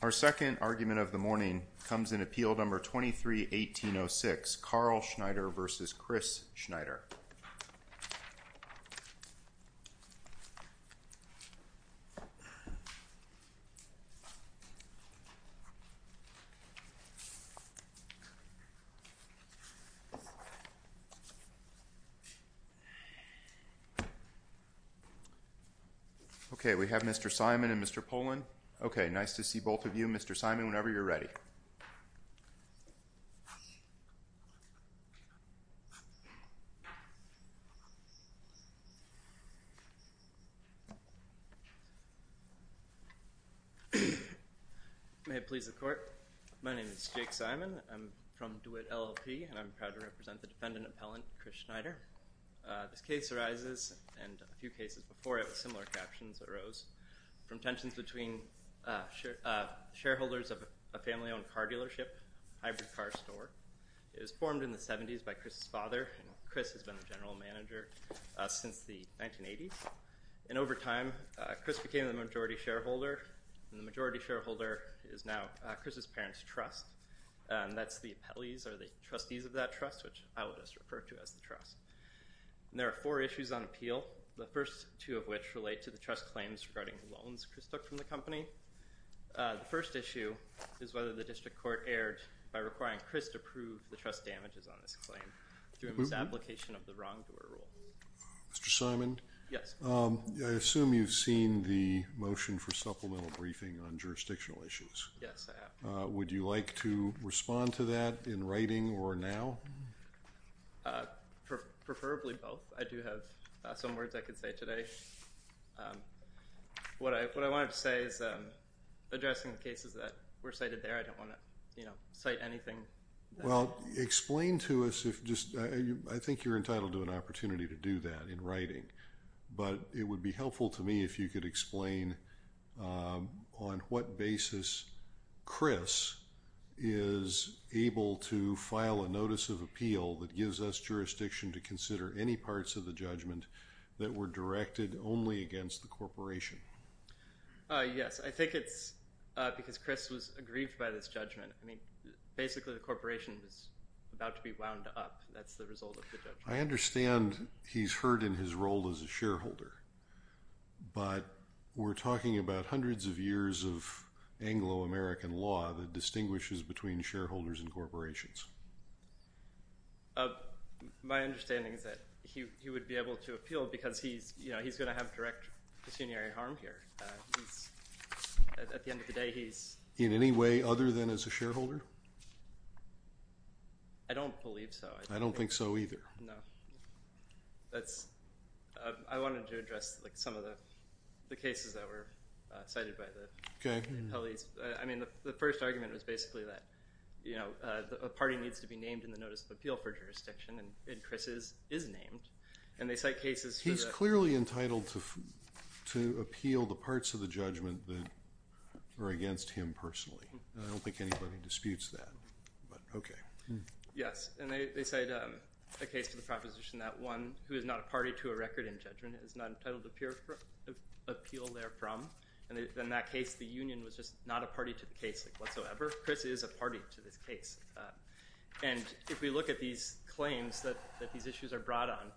Our second argument of the morning comes in appeal number 23-1806, Carl Schneider v. Chris Schneider. Okay, we have Mr. Simon and Mr. Polin. Okay, nice to see both of you. Mr. Simon, whenever you're ready. May it please the court. My name is Jake Simon. I'm from DeWitt LLP and I'm proud to represent the defendant appellant Chris Schneider. This case arises, and a few cases before it with similar captions arose, from tensions between shareholders of a family-owned car dealership, hybrid car store. It was formed in the 70s by Chris's father, and Chris has been the general manager since the 1980s. And over time, Chris became the majority shareholder, and the majority shareholder is now Chris's parents' trust. And that's the appellees or the trustees of that trust, which I would just refer to as the trust. And there are four issues on appeal, the first two of which relate to the trust claims regarding loans Chris took from the company. The first issue is whether the district court erred by requiring Chris to prove the trust damages on this claim through a misapplication of the wrongdoer rule. Mr. Simon, I assume you've seen the motion for supplemental briefing on jurisdictional issues. Yes, I have. Would you like to respond to that in writing or now? Preferably both. I do have some words I could say today. What I wanted to say is, addressing the cases that were cited there, I don't want to cite anything. Well, explain to us, I think you're entitled to an opportunity to do that in writing, but it would be helpful to me if you could explain on what basis Chris is able to file a notice of appeal that gives us jurisdiction to consider any parts of the judgment that were directed only against the corporation. Yes, I think it's because Chris was aggrieved by this judgment. I mean, basically the corporation is about to be wound up. That's the result of the judgment. I understand he's hurt in his role as a shareholder, but we're talking about hundreds of years of Anglo-American law that distinguishes between shareholders and corporations. My understanding is that he would be able to appeal because he's going to have direct pecuniary harm here. At the end of the day, he's... In any way other than as a shareholder? I don't believe so. I don't think so either. No. I wanted to address some of the cases that were cited by the appellees. I mean, the first argument was basically that a party needs to be named in the notice of appeal for jurisdiction, and Chris is named. He's clearly entitled to appeal the parts of the judgment that were against him personally. I don't think anybody disputes that, but okay. Yes, and they cite a case to the proposition that one who is not a party to a record in judgment is not entitled to appeal therefrom. In that case, the union was just not a party to the case whatsoever. Chris is a party to this case. If we look at these claims that these issues are brought on,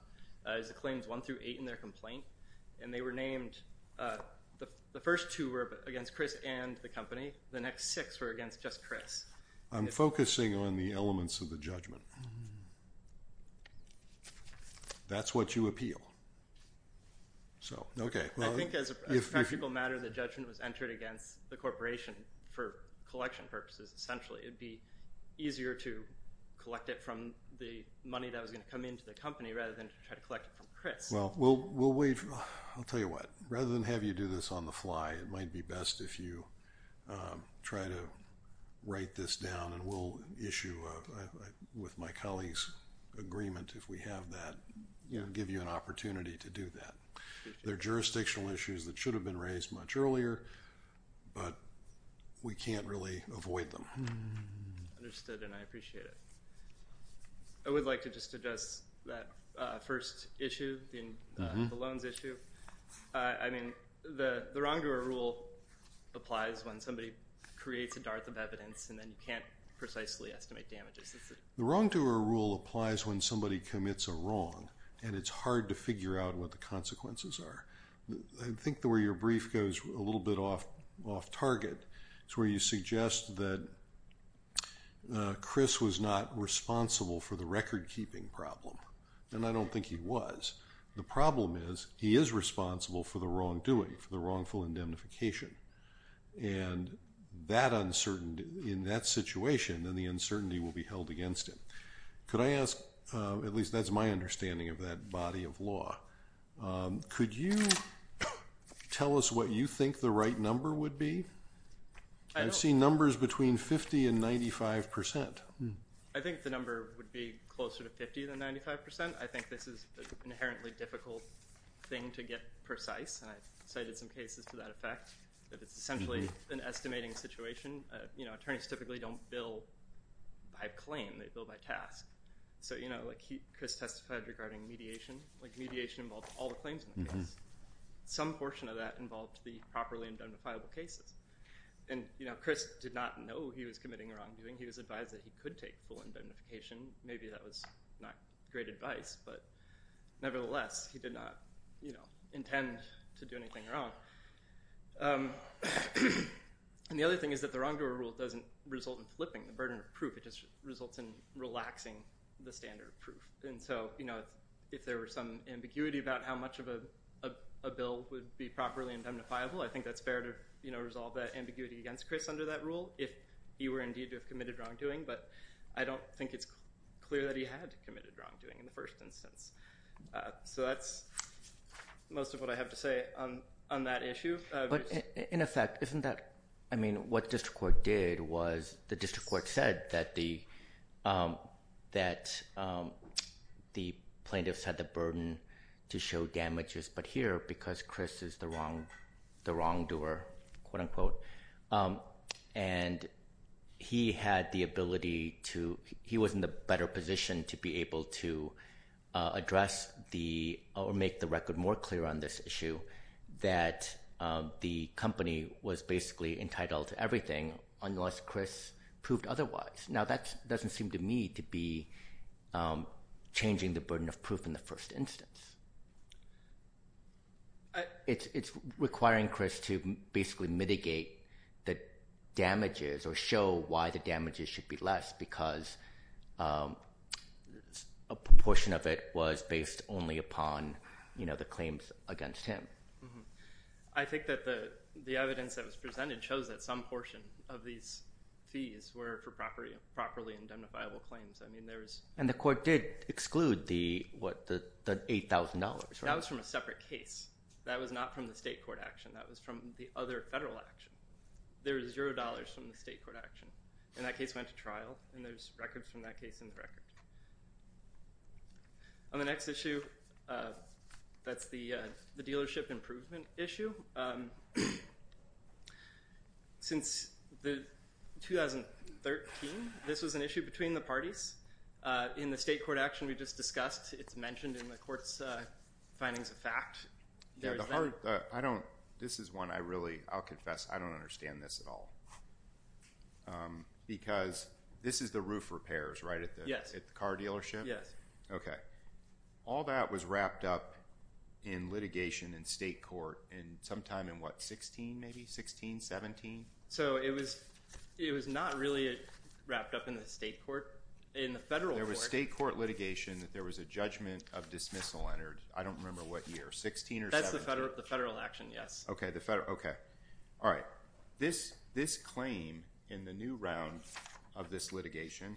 it's claims one through eight in their complaint, and they were named. The first two were against Chris and the company. The next six were against just Chris. I'm focusing on the elements of the judgment. That's what you appeal. Okay. I think as a practical matter, the judgment was entered against the corporation for collection purposes, essentially. It would be easier to collect it from the money that was going to come into the company rather than to try to collect it from Chris. Well, we'll wait. I'll tell you what. Rather than have you do this on the fly, it might be best if you try to write this down, and we'll issue with my colleagues agreement if we have that, give you an opportunity to do that. They're jurisdictional issues that should have been raised much earlier, but we can't really avoid them. Understood, and I appreciate it. I would like to just address that first issue, the loans issue. I mean, the wrongdoer rule applies when somebody creates a dart of evidence, and then you can't precisely estimate damages. The wrongdoer rule applies when somebody commits a wrong, and it's hard to figure out what the consequences are. I think where your brief goes a little bit off target is where you suggest that Chris was not responsible for the recordkeeping problem, and I don't think he was. The problem is he is responsible for the wrongdoing, for the wrongful indemnification. And in that situation, then the uncertainty will be held against him. Could I ask, at least that's my understanding of that body of law, could you tell us what you think the right number would be? I've seen numbers between 50 and 95%. I think the number would be closer to 50 than 95%. I think this is an inherently difficult thing to get precise, and I've cited some cases to that effect. It's essentially an estimating situation. You know, attorneys typically don't bill by claim. They bill by task. So, you know, Chris testified regarding mediation. Like, mediation involved all the claims in the case. Some portion of that involved the properly indemnifiable cases. And, you know, Chris did not know he was committing a wrongdoing. He was advised that he could take full indemnification. Maybe that was not great advice, but nevertheless, he did not, you know, intend to do anything wrong. And the other thing is that the wrongdoer rule doesn't result in flipping the burden of proof. It just results in relaxing the standard of proof. And so, you know, if there were some ambiguity about how much of a bill would be properly indemnifiable, I think that's fair to, you know, resolve that ambiguity against Chris under that rule if he were indeed to have committed wrongdoing. But I don't think it's clear that he had committed wrongdoing in the first instance. So that's most of what I have to say on that issue. But in effect, isn't that, I mean, what district court did was the district court said that the plaintiffs had the burden to show damages. But here, because Chris is the wrongdoer, quote, unquote, and he had the ability to, he was in the better position to be able to address the, or make the record more clear on this issue that the company was basically entitled to everything unless Chris proved otherwise. Now, that doesn't seem to me to be changing the burden of proof in the first instance. It's requiring Chris to basically mitigate the damages or show why the damages should be less because a portion of it was based only upon, you know, the claims against him. I think that the evidence that was presented shows that some portion of these fees were for properly indemnifiable claims. And the court did exclude the $8,000, right? That was from a separate case. That was not from the state court action. That was from the other federal action. There was $0 from the state court action, and that case went to trial, and there's records from that case in the record. On the next issue, that's the dealership improvement issue. Since 2013, this was an issue between the parties. In the state court action we just discussed, it's mentioned in the court's findings of fact. Yeah, the hard, I don't, this is one I really, I'll confess, I don't understand this at all because this is the roof repairs, right, at the car dealership? Yes. Okay. All that was wrapped up in litigation in state court sometime in what, 16 maybe, 16, 17? So it was not really wrapped up in the state court. In the federal court. There was state court litigation that there was a judgment of dismissal entered, I don't remember what year, 16 or 17. That's the federal action, yes. Okay, the federal, okay. All right, this claim in the new round of this litigation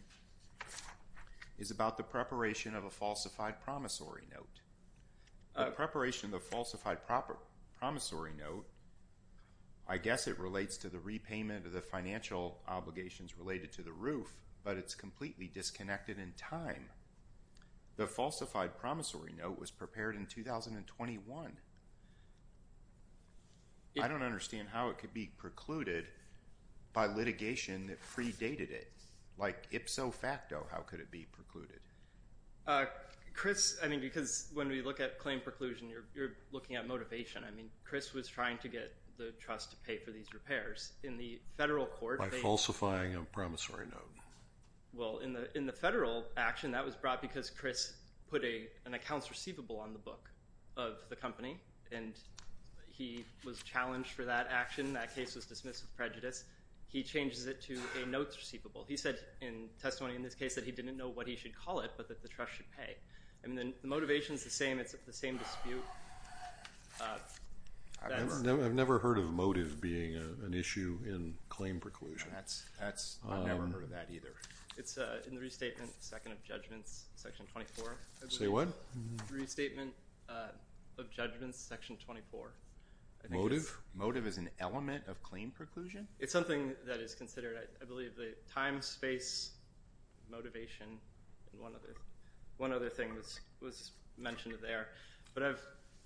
is about the preparation of a falsified promissory note. The preparation of the falsified promissory note, I guess it relates to the repayment of the financial obligations related to the roof, but it's completely disconnected in time. The falsified promissory note was prepared in 2021. I don't understand how it could be precluded by litigation that predated it. Like, ipso facto, how could it be precluded? Chris, I mean, because when we look at claim preclusion, you're looking at motivation. I mean, Chris was trying to get the trust to pay for these repairs. In the federal court. By falsifying a promissory note. Well, in the federal action, that was brought because Chris put an accounts receivable on the book of the company, and he was challenged for that action. That case was dismissed with prejudice. He changes it to a notes receivable. He said in testimony in this case that he didn't know what he should call it, but that the trust should pay. I mean, the motivation is the same. It's the same dispute. I've never heard of motive being an issue in claim preclusion. I've never heard of that either. It's in the restatement, second of judgments, section 24. Say what? Restatement of judgments, section 24. Motive is an element of claim preclusion? It's something that is considered, I believe, the time, space, motivation, and one other thing was mentioned there. But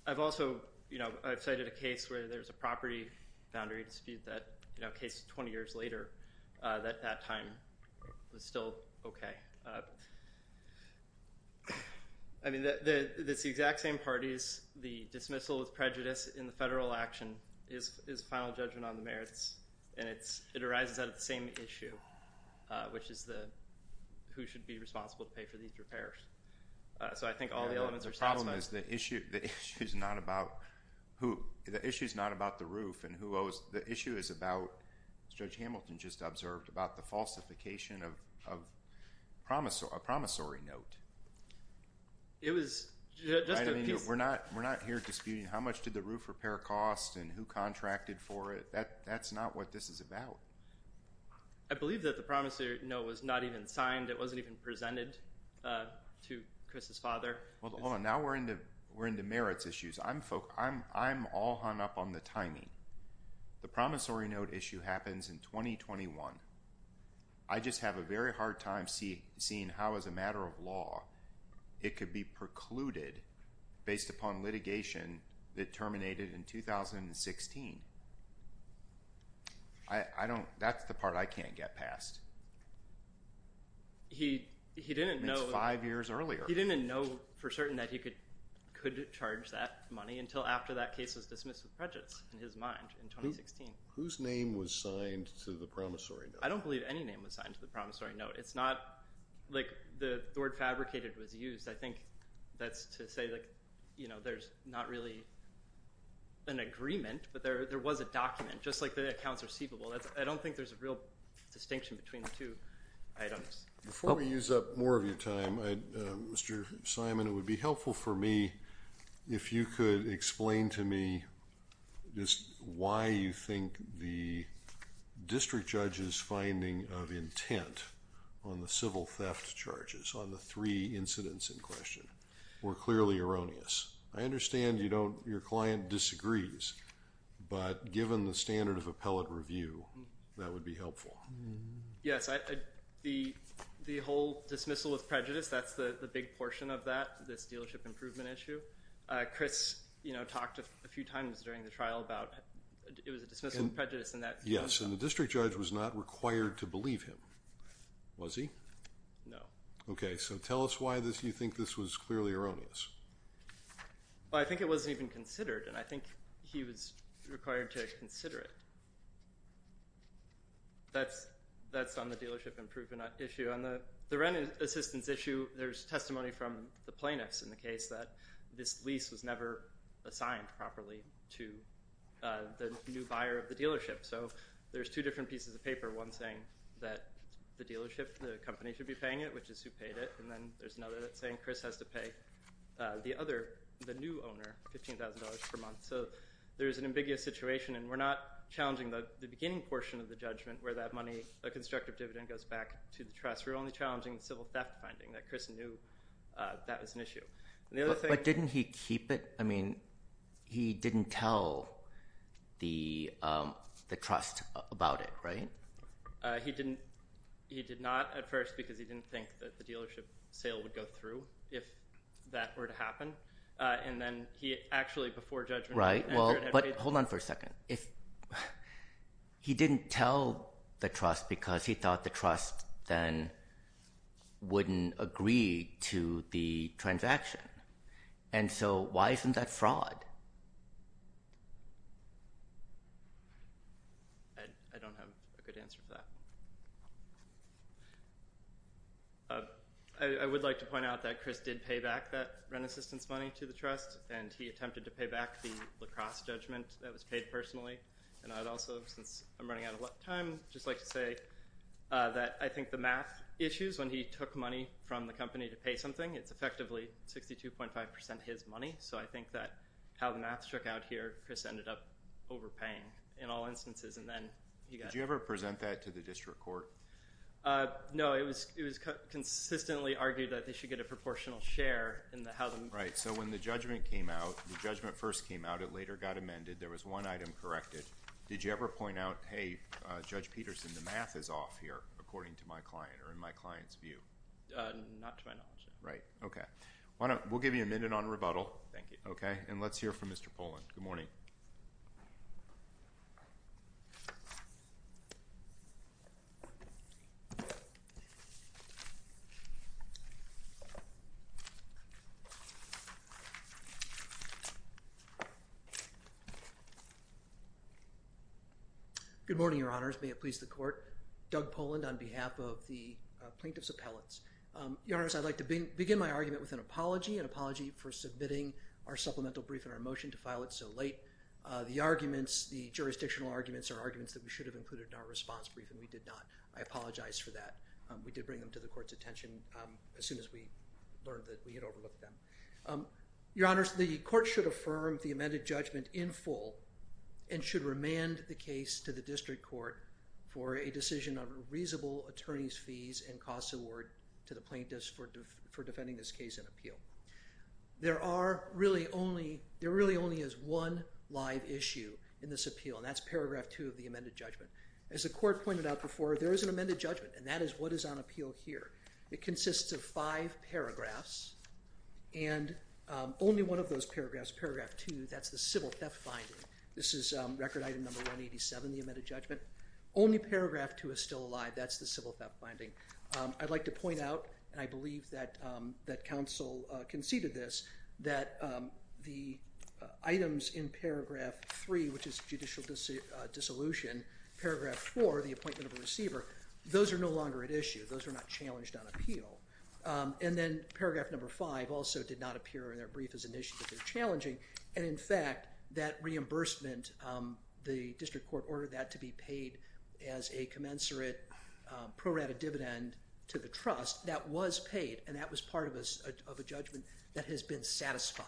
I've also cited a case where there's a property boundary dispute that case 20 years later that that time was still okay. I mean, it's the exact same parties. The dismissal of prejudice in the federal action is final judgment on the merits, and it arises out of the same issue, which is who should be responsible to pay for these repairs. So I think all the elements are satisfied. The problem is the issue is not about the roof, and the issue is about, as Judge Hamilton just observed, about the falsification of a promissory note. We're not here disputing how much did the roof repair cost and who contracted for it. That's not what this is about. I believe that the promissory note was not even signed. It wasn't even presented to Chris's father. Well, now we're into merits issues. I'm all hung up on the timing. The promissory note issue happens in 2021. I just have a very hard time seeing how, as a matter of law, it could be precluded based upon litigation that terminated in 2016. That's the part I can't get past. It's five years earlier. He didn't know for certain that he could charge that money until after that case was dismissed with prejudice in his mind in 2016. Whose name was signed to the promissory note? I don't believe any name was signed to the promissory note. It's not like the word fabricated was used. I think that's to say there's not really an agreement, but there was a document, just like the accounts receivable. I don't think there's a real distinction between the two items. Before we use up more of your time, Mr. Simon, it would be helpful for me if you could explain to me why you think the district judge's finding of intent on the civil theft charges, on the three incidents in question, were clearly erroneous. I understand your client disagrees, but given the standard of appellate review, that would be helpful. Yes, the whole dismissal with prejudice, that's the big portion of that, this dealership improvement issue. Chris talked a few times during the trial about it was a dismissal with prejudice. Yes, and the district judge was not required to believe him. Was he? No. Okay, so tell us why you think this was clearly erroneous. I think it wasn't even considered, and I think he was required to consider it. That's on the dealership improvement issue. On the rent assistance issue, there's testimony from the plaintiffs in the case that this lease was never assigned properly to the new buyer of the dealership. So there's two different pieces of paper, one saying that the dealership, the company, should be paying it, which is who paid it, and then there's another that's saying Chris has to pay the other, the new owner, $15,000 per month. So there's an ambiguous situation, and we're not challenging the beginning portion of the judgment where that money, that constructive dividend, goes back to the trust. We're only challenging the civil theft finding, that Chris knew that was an issue. But didn't he keep it? I mean, he didn't tell the trust about it, right? He did not at first because he didn't think that the dealership sale would go through if that were to happen, and then he actually, before judgment, Right, well, but hold on for a second. He didn't tell the trust because he thought the trust then wouldn't agree to the transaction, and so why isn't that fraud? I don't have a good answer for that. I would like to point out that Chris did pay back that rent assistance money to the trust, and he attempted to pay back the lacrosse judgment that was paid personally, and I'd also, since I'm running out of time, just like to say that I think the math issues, when he took money from the company to pay something, it's effectively 62.5% his money, so I think that how the math struck out here, Chris ended up overpaying in all instances, and then he got. Did you ever present that to the district court? No, it was consistently argued that they should get a proportional share in how the. Right, so when the judgment came out, the judgment first came out. It later got amended. There was one item corrected. Did you ever point out, hey, Judge Peterson, the math is off here, according to my client or in my client's view? Not to my knowledge. Right, okay. We'll give you a minute on rebuttal. Thank you. Okay, and let's hear from Mr. Poland. Good morning. Good morning, Your Honors. May it please the Court. Doug Poland on behalf of the plaintiff's appellants. Your Honors, I'd like to begin my argument with an apology, an apology for submitting our supplemental brief and our motion to file it so late. The arguments, the jurisdictional arguments are arguments that we should have included in our response brief, and we did not. I apologize for that. We did bring them to the Court's attention as soon as we learned that we had overlooked them. Your Honors, the Court should affirm the amended judgment in full and should remand the case to the district court for a decision on a reasonable attorney's fees and costs award to the plaintiff for defending this case in appeal. There are really only, there really only is one live issue in this appeal, and that's paragraph two of the amended judgment. As the Court pointed out before, there is an amended judgment, and that is what is on appeal here. It consists of five paragraphs, and only one of those paragraphs, paragraph two, that's the civil theft finding. This is record item number 187, the amended judgment. Only paragraph two is still alive. That's the civil theft finding. I'd like to point out, and I believe that counsel conceded this, that the items in paragraph three, which is judicial dissolution, paragraph four, the appointment of a receiver, those are no longer at issue. Those are not challenged on appeal. And then paragraph number five also did not appear in our brief as an issue, but they're challenging, and in fact, that reimbursement, the district court ordered that to be paid as a commensurate pro rata dividend to the trust. That was paid, and that was part of a judgment that has been satisfied.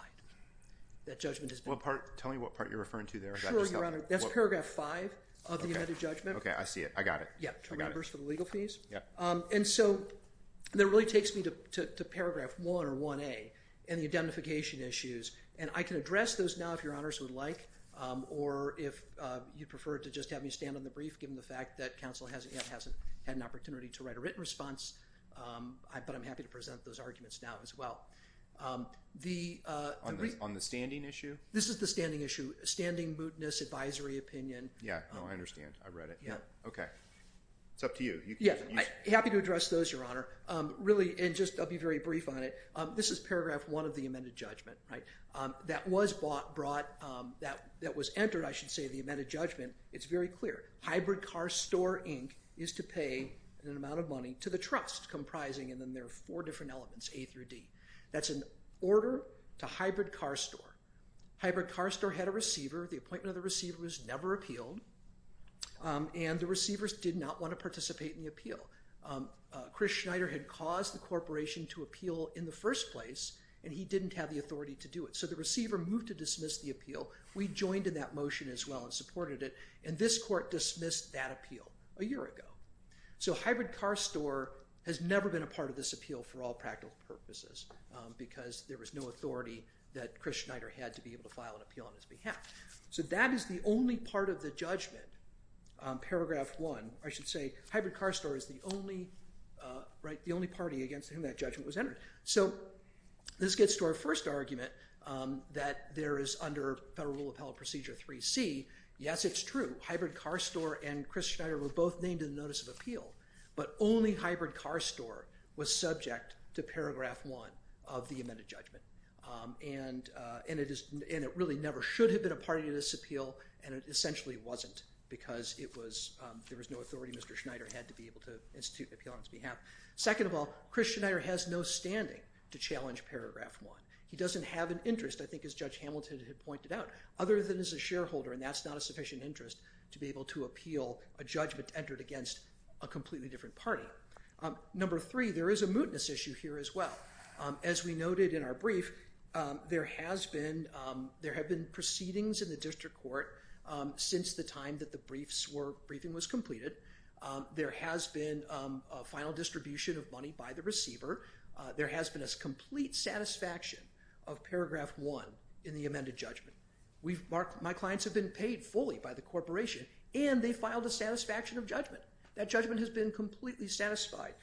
That judgment has been satisfied. Well, tell me what part you're referring to there. Sure, Your Honor. That's paragraph five of the amended judgment. Okay, I see it. I got it. Yeah, reimbursement for the legal fees. Yeah. And so, that really takes me to paragraph one, or 1A, and the identification issues. And I can address those now if Your Honors would like, or if you'd prefer to just have me stand on the brief, given the fact that counsel hasn't yet had an opportunity to write a written response, but I'm happy to present those arguments now as well. On the standing issue? This is the standing issue. Standing, mootness, advisory opinion. Yeah, no, I understand. I read it. Yeah. Okay. It's up to you. Yeah, happy to address those, Your Honor. Really, and just I'll be very brief on it. This is paragraph one of the amended judgment, right? That was brought, that was entered, I should say, the amended judgment. It's very clear. Hybrid car store, Inc., is to pay an amount of money to the trust, comprising, and then there are four different elements, A through D. That's an order to hybrid car store. Hybrid car store had a receiver. The appointment of the receiver was never appealed, and the receivers did not want to participate in the appeal. Chris Schneider had caused the corporation to appeal in the first place, and he didn't have the authority to do it. So the receiver moved to dismiss the appeal. We joined in that motion as well and supported it, and this court dismissed that appeal a year ago. So hybrid car store has never been a part of this appeal for all practical purposes because there was no authority that Chris Schneider had to be able to file an appeal on his behalf. So that is the only part of the judgment, paragraph one. I should say hybrid car store is the only, right, the only party against whom that judgment was entered. So this gets to our first argument that there is under Federal Rule of Appellate Procedure 3C, yes, it's true, hybrid car store and Chris Schneider were both named in the notice of appeal, but only hybrid car store was subject to paragraph one of the amended judgment. And it really never should have been a part of this appeal, and it essentially wasn't because there was no authority Mr. Schneider had to be able to institute an appeal on his behalf. Second of all, Chris Schneider has no standing to challenge paragraph one. He doesn't have an interest, I think as Judge Hamilton had pointed out, other than as a shareholder, and that's not a sufficient interest to be able to appeal a judgment entered against a completely different party. Number three, there is a mootness issue here as well. As we noted in our brief, there has been, there have been proceedings in the district court since the time that the briefs were, briefing was completed. There has been a final distribution of money by the receiver. There has been a complete satisfaction of paragraph one in the amended judgment. My clients have been paid fully by the corporation, and they filed a satisfaction of judgment. That judgment has been completely satisfied.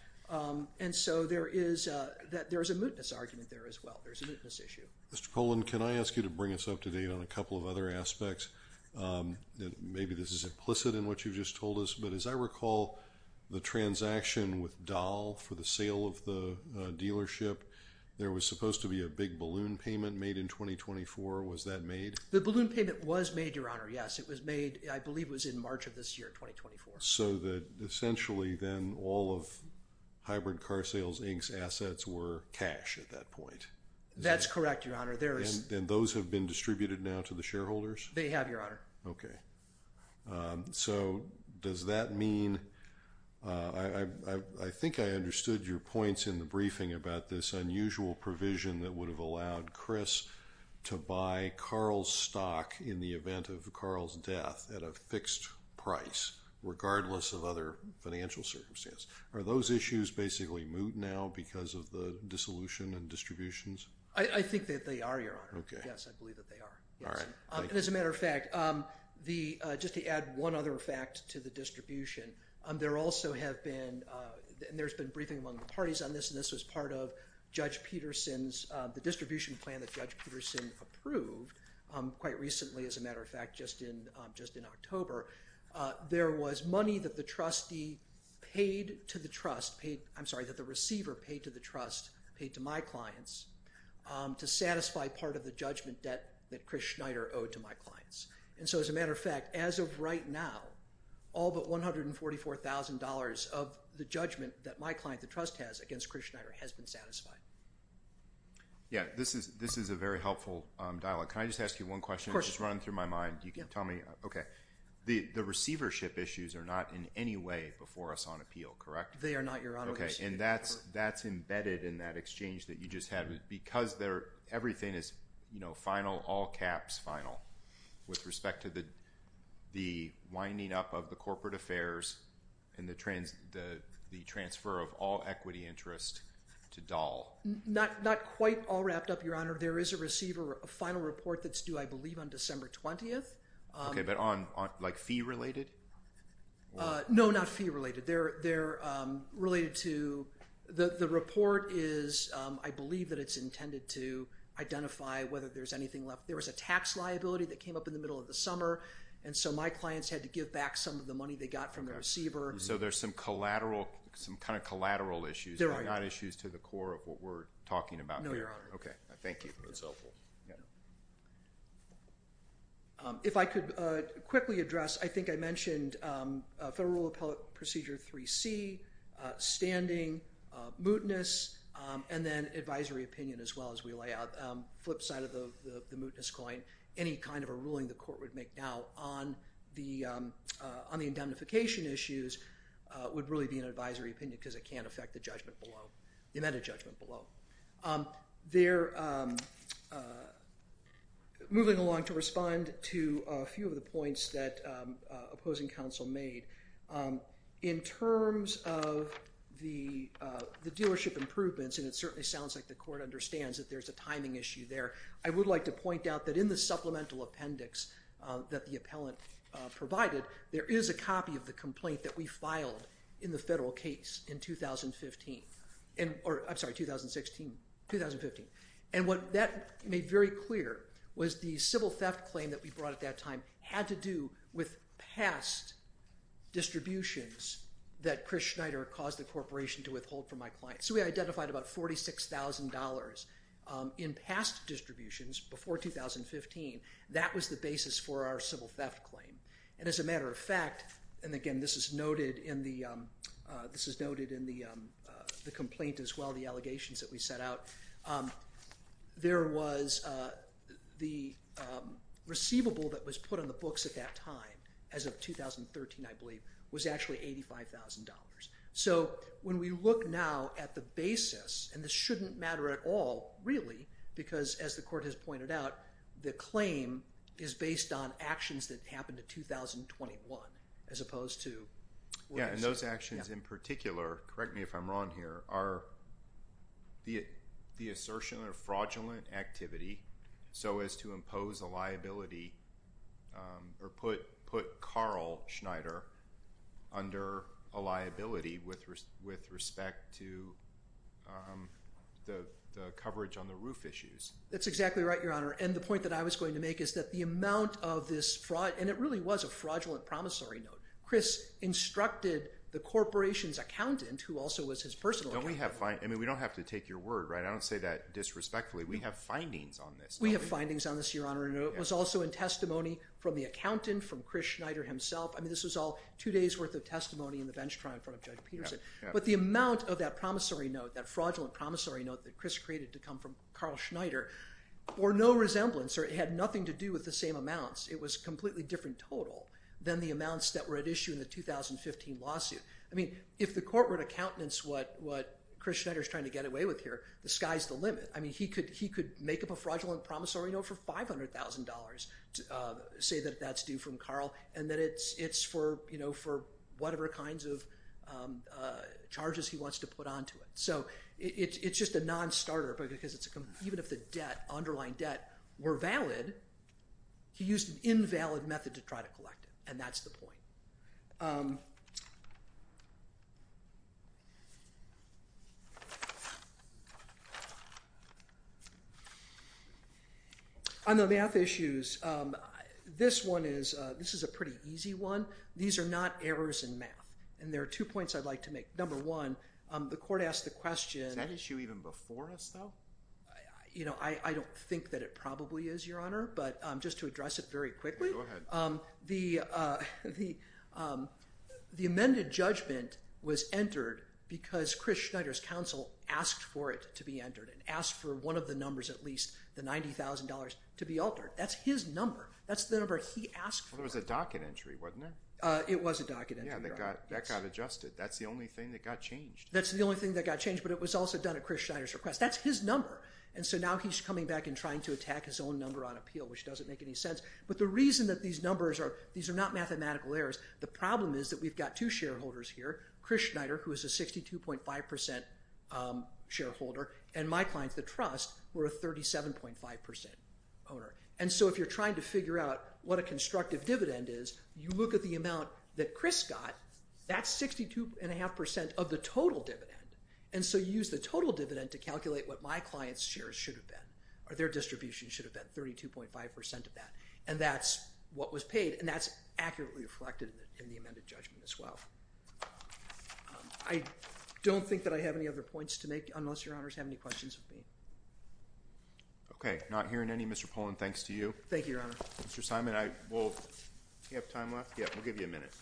And so there is a, there is a mootness argument there as well. There's a mootness issue. Mr. Poland, can I ask you to bring us up to date on a couple of other aspects that maybe this is implicit in what you've just told us, but as I recall the transaction with Dahl for the sale of the dealership, there was supposed to be a big balloon payment made in 2024. Was that made? The balloon payment was made, Your Honor. Yes, it was made, I believe it was in March of this year, 2024. So that essentially then all of Hybrid Car Sales Inc's assets were cash at that point. That's correct, Your Honor. And those have been distributed now to the shareholders? They have, Your Honor. Okay. So does that mean, I think I understood your points in the briefing about this unusual provision that would have allowed Chris to buy Carl's stock in the event of Carl's death at a fixed price, regardless of other financial circumstances. Are those issues basically moot now because of the dissolution and I think that they are, Your Honor. Okay. Yes, I believe that they are. All right. And as a matter of fact, just to add one other fact to the distribution, there also have been, and there's been briefing among the parties on this, and this was part of Judge Peterson's, the distribution plan that Judge Peterson approved quite recently, as a matter of fact, just in October. There was money that the trustee paid to the trust, paid, I'm sorry, that the receiver paid to the trust, paid to my clients, to satisfy part of the judgment debt that Chris Schneider owed to my clients. And so as a matter of fact, as of right now, all but $144,000 of the judgment that my client, the trust has against Chris Schneider has been satisfied. Yeah. This is a very helpful dialogue. Can I just ask you one question? Of course. It's running through my mind. You can tell me. Okay. The receivership issues are not in any way before us on appeal, correct? They are not, Your Honor. Okay. And that's embedded in that exchange that you just had. Because everything is, you know, final, all caps, final, with respect to the winding up of the corporate affairs and the transfer of all equity interest to Dahl. Not quite all wrapped up, Your Honor. There is a receiver, a final report that's due, I believe, on December 20th. Okay. But like fee related? No, not fee related. They're related to the report is, I believe, that it's intended to identify whether there's anything left. There was a tax liability that came up in the middle of the summer, and so my clients had to give back some of the money they got from the receiver. So there's some collateral, some kind of collateral issues. There are. Not issues to the core of what we're talking about. No, Your Honor. Okay. Thank you. That's helpful. Yeah. If I could quickly address, I think I mentioned Federal Rule of Appellate Procedure 3C, standing, mootness, and then advisory opinion as well as we lay out. Flip side of the mootness coin, any kind of a ruling the court would make now on the indemnification issues would really be an advisory opinion because it can't affect the judgment below, the amended judgment below. They're moving along to respond to a few of the points that opposing counsel made. In terms of the dealership improvements, and it certainly sounds like the court understands that there's a timing issue there, I would like to point out that in the supplemental appendix that the appellant provided, there is a copy of the complaint that we filed in the federal case in 2015. I'm sorry, 2016. 2015. What that made very clear was the civil theft claim that we brought at that time had to do with past distributions that Chris Schneider caused the corporation to withhold from my client. We identified about $46,000 in past distributions before 2015. That was the basis for our civil theft claim. As a matter of fact, and again, this is noted in the complaint as well, the allegations that we set out. There was the receivable that was put on the books at that time, as of 2013, I believe, was actually $85,000. When we look now at the basis, and this shouldn't matter at all really because as the court has pointed out, the claim is based on actions that happened in 2021 as opposed to what it is. Yeah, and those actions in particular, correct me if I'm wrong here, are the assertion of fraudulent activity so as to impose a liability or put Carl Schneider under a liability with respect to the coverage on the roof issues. That's exactly right, Your Honor, and the point that I was going to make is that the amount of this fraud, and it really was a fraudulent promissory note. Chris instructed the corporation's accountant who also was his personal accountant. We don't have to take your word, right? I don't say that disrespectfully. We have findings on this. We have findings on this, Your Honor, and it was also in testimony from the accountant, from Chris Schneider himself. I mean, this was all two days worth of testimony in the bench trial in front of Judge Peterson, but the amount of that promissory note, that fraudulent promissory note that Chris created to come from Carl Schneider, or no resemblance, or it had nothing to do with the same amounts. It was a completely different total than the amounts that were at issue in the 2015 lawsuit. I mean, if the court were to countenance what Chris Schneider's trying to get away with here, the sky's the limit. I mean, he could make up a fraudulent promissory note for $500,000, say that that's due from Carl, and that it's for whatever kinds of charges he wants to put onto it. So it's just a non-starter, because even if the underlying debt were valid, he used an invalid method to try to collect it, and that's the point. On the math issues, this one is, this is a pretty easy one. These are not errors in math, and there are two points I'd like to make. Number one, the court asked the question. Is that issue even before us, I don't think that it probably is, Your Honor, but just to address it very quickly, the amended judgment was entered because Chris Schneider's counsel asked for it to be entered and asked for one of the numbers, at least the $90,000 to be altered. That's his number. That's the number he asked for. It was a docket entry, wasn't it? It was a docket entry. That got adjusted. That's the only thing that got changed. That's the only thing that got changed, but it was also done at Chris Schneider's request. That's his number. Now he's coming back and trying to attack his own number on appeal, which doesn't make any sense. The reason that these numbers are, these are not mathematical errors, the problem is that we've got two shareholders here, Chris Schneider, who is a 62.5% shareholder, and my clients, the trust, who are a 37.5% owner. If you're trying to figure out what a constructive dividend is, you look at the amount that Chris got. That's 62.5% of the total dividend. You use the total dividend to calculate what my client's shares should have been, or their distribution should have been, 32.5% of that. That's what was paid, and that's accurately reflected in the amended judgment as well. I don't think that I have any other points to make, unless your honors have any questions of me. Okay. Not hearing any, Mr. Poland, thanks to you. Thank you, your honor. Mr. Simon, do you have time left? Yeah, we'll give you a minute.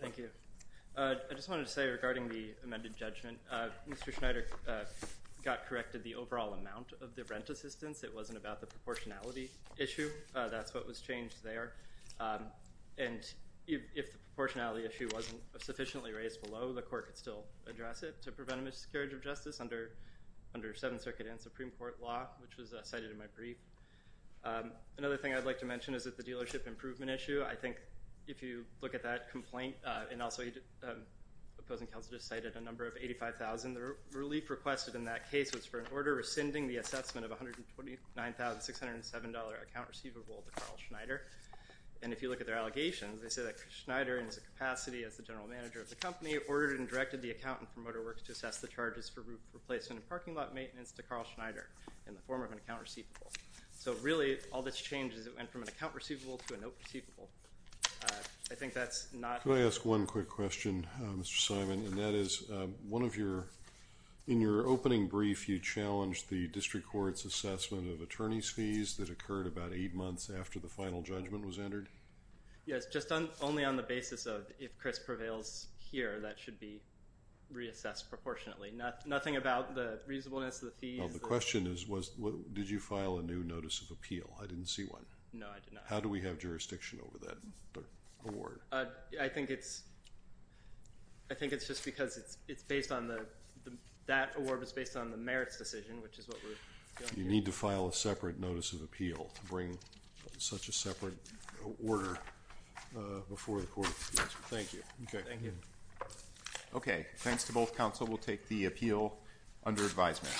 Thank you. I just wanted to say regarding the amended judgment, Mr. Schneider got corrected the overall amount of the rent assistance. It wasn't about the proportionality issue. That's what was changed there. And if the proportionality issue wasn't sufficiently raised below, the court could still address it to prevent a miscarriage of justice under, under seventh circuit and Supreme court law, which was cited in my brief. Another thing I'd like to mention is that the dealership improvement issue, I think if you look at that complaint and also opposing counsel, just cited a number of 85,000, the relief requested in that case was for an order rescinding the assessment of $129,607 account receivable to Carl Schneider. And if you look at their allegations, they say that Schneider and his capacity as the general manager of the company ordered and directed the accountant for motor works to assess the placement of parking lot maintenance to Carl Schneider in the form of an account receivable. So really all that's changed is it went from an account receivable to a note receivable. I think that's not, can I ask one quick question, Mr. Simon? And that is one of your, in your opening brief, you challenged the district court's assessment of attorney's fees that occurred about eight months after the final judgment was entered. Yes. Just on only on the basis of if Chris prevails here, that should be reassessed proportionately. Nothing about the reasonableness of the fees. The question is, was, did you file a new notice of appeal? I didn't see one. No, I did not. How do we have jurisdiction over that award? I think it's, I think it's just because it's, it's based on the, that award was based on the merits decision, which is what we're doing. You need to file a separate notice of appeal to bring such a separate order before the court. Thank you. Okay. Thank you. Okay. Thanks to both council. We'll take the appeal under advisement.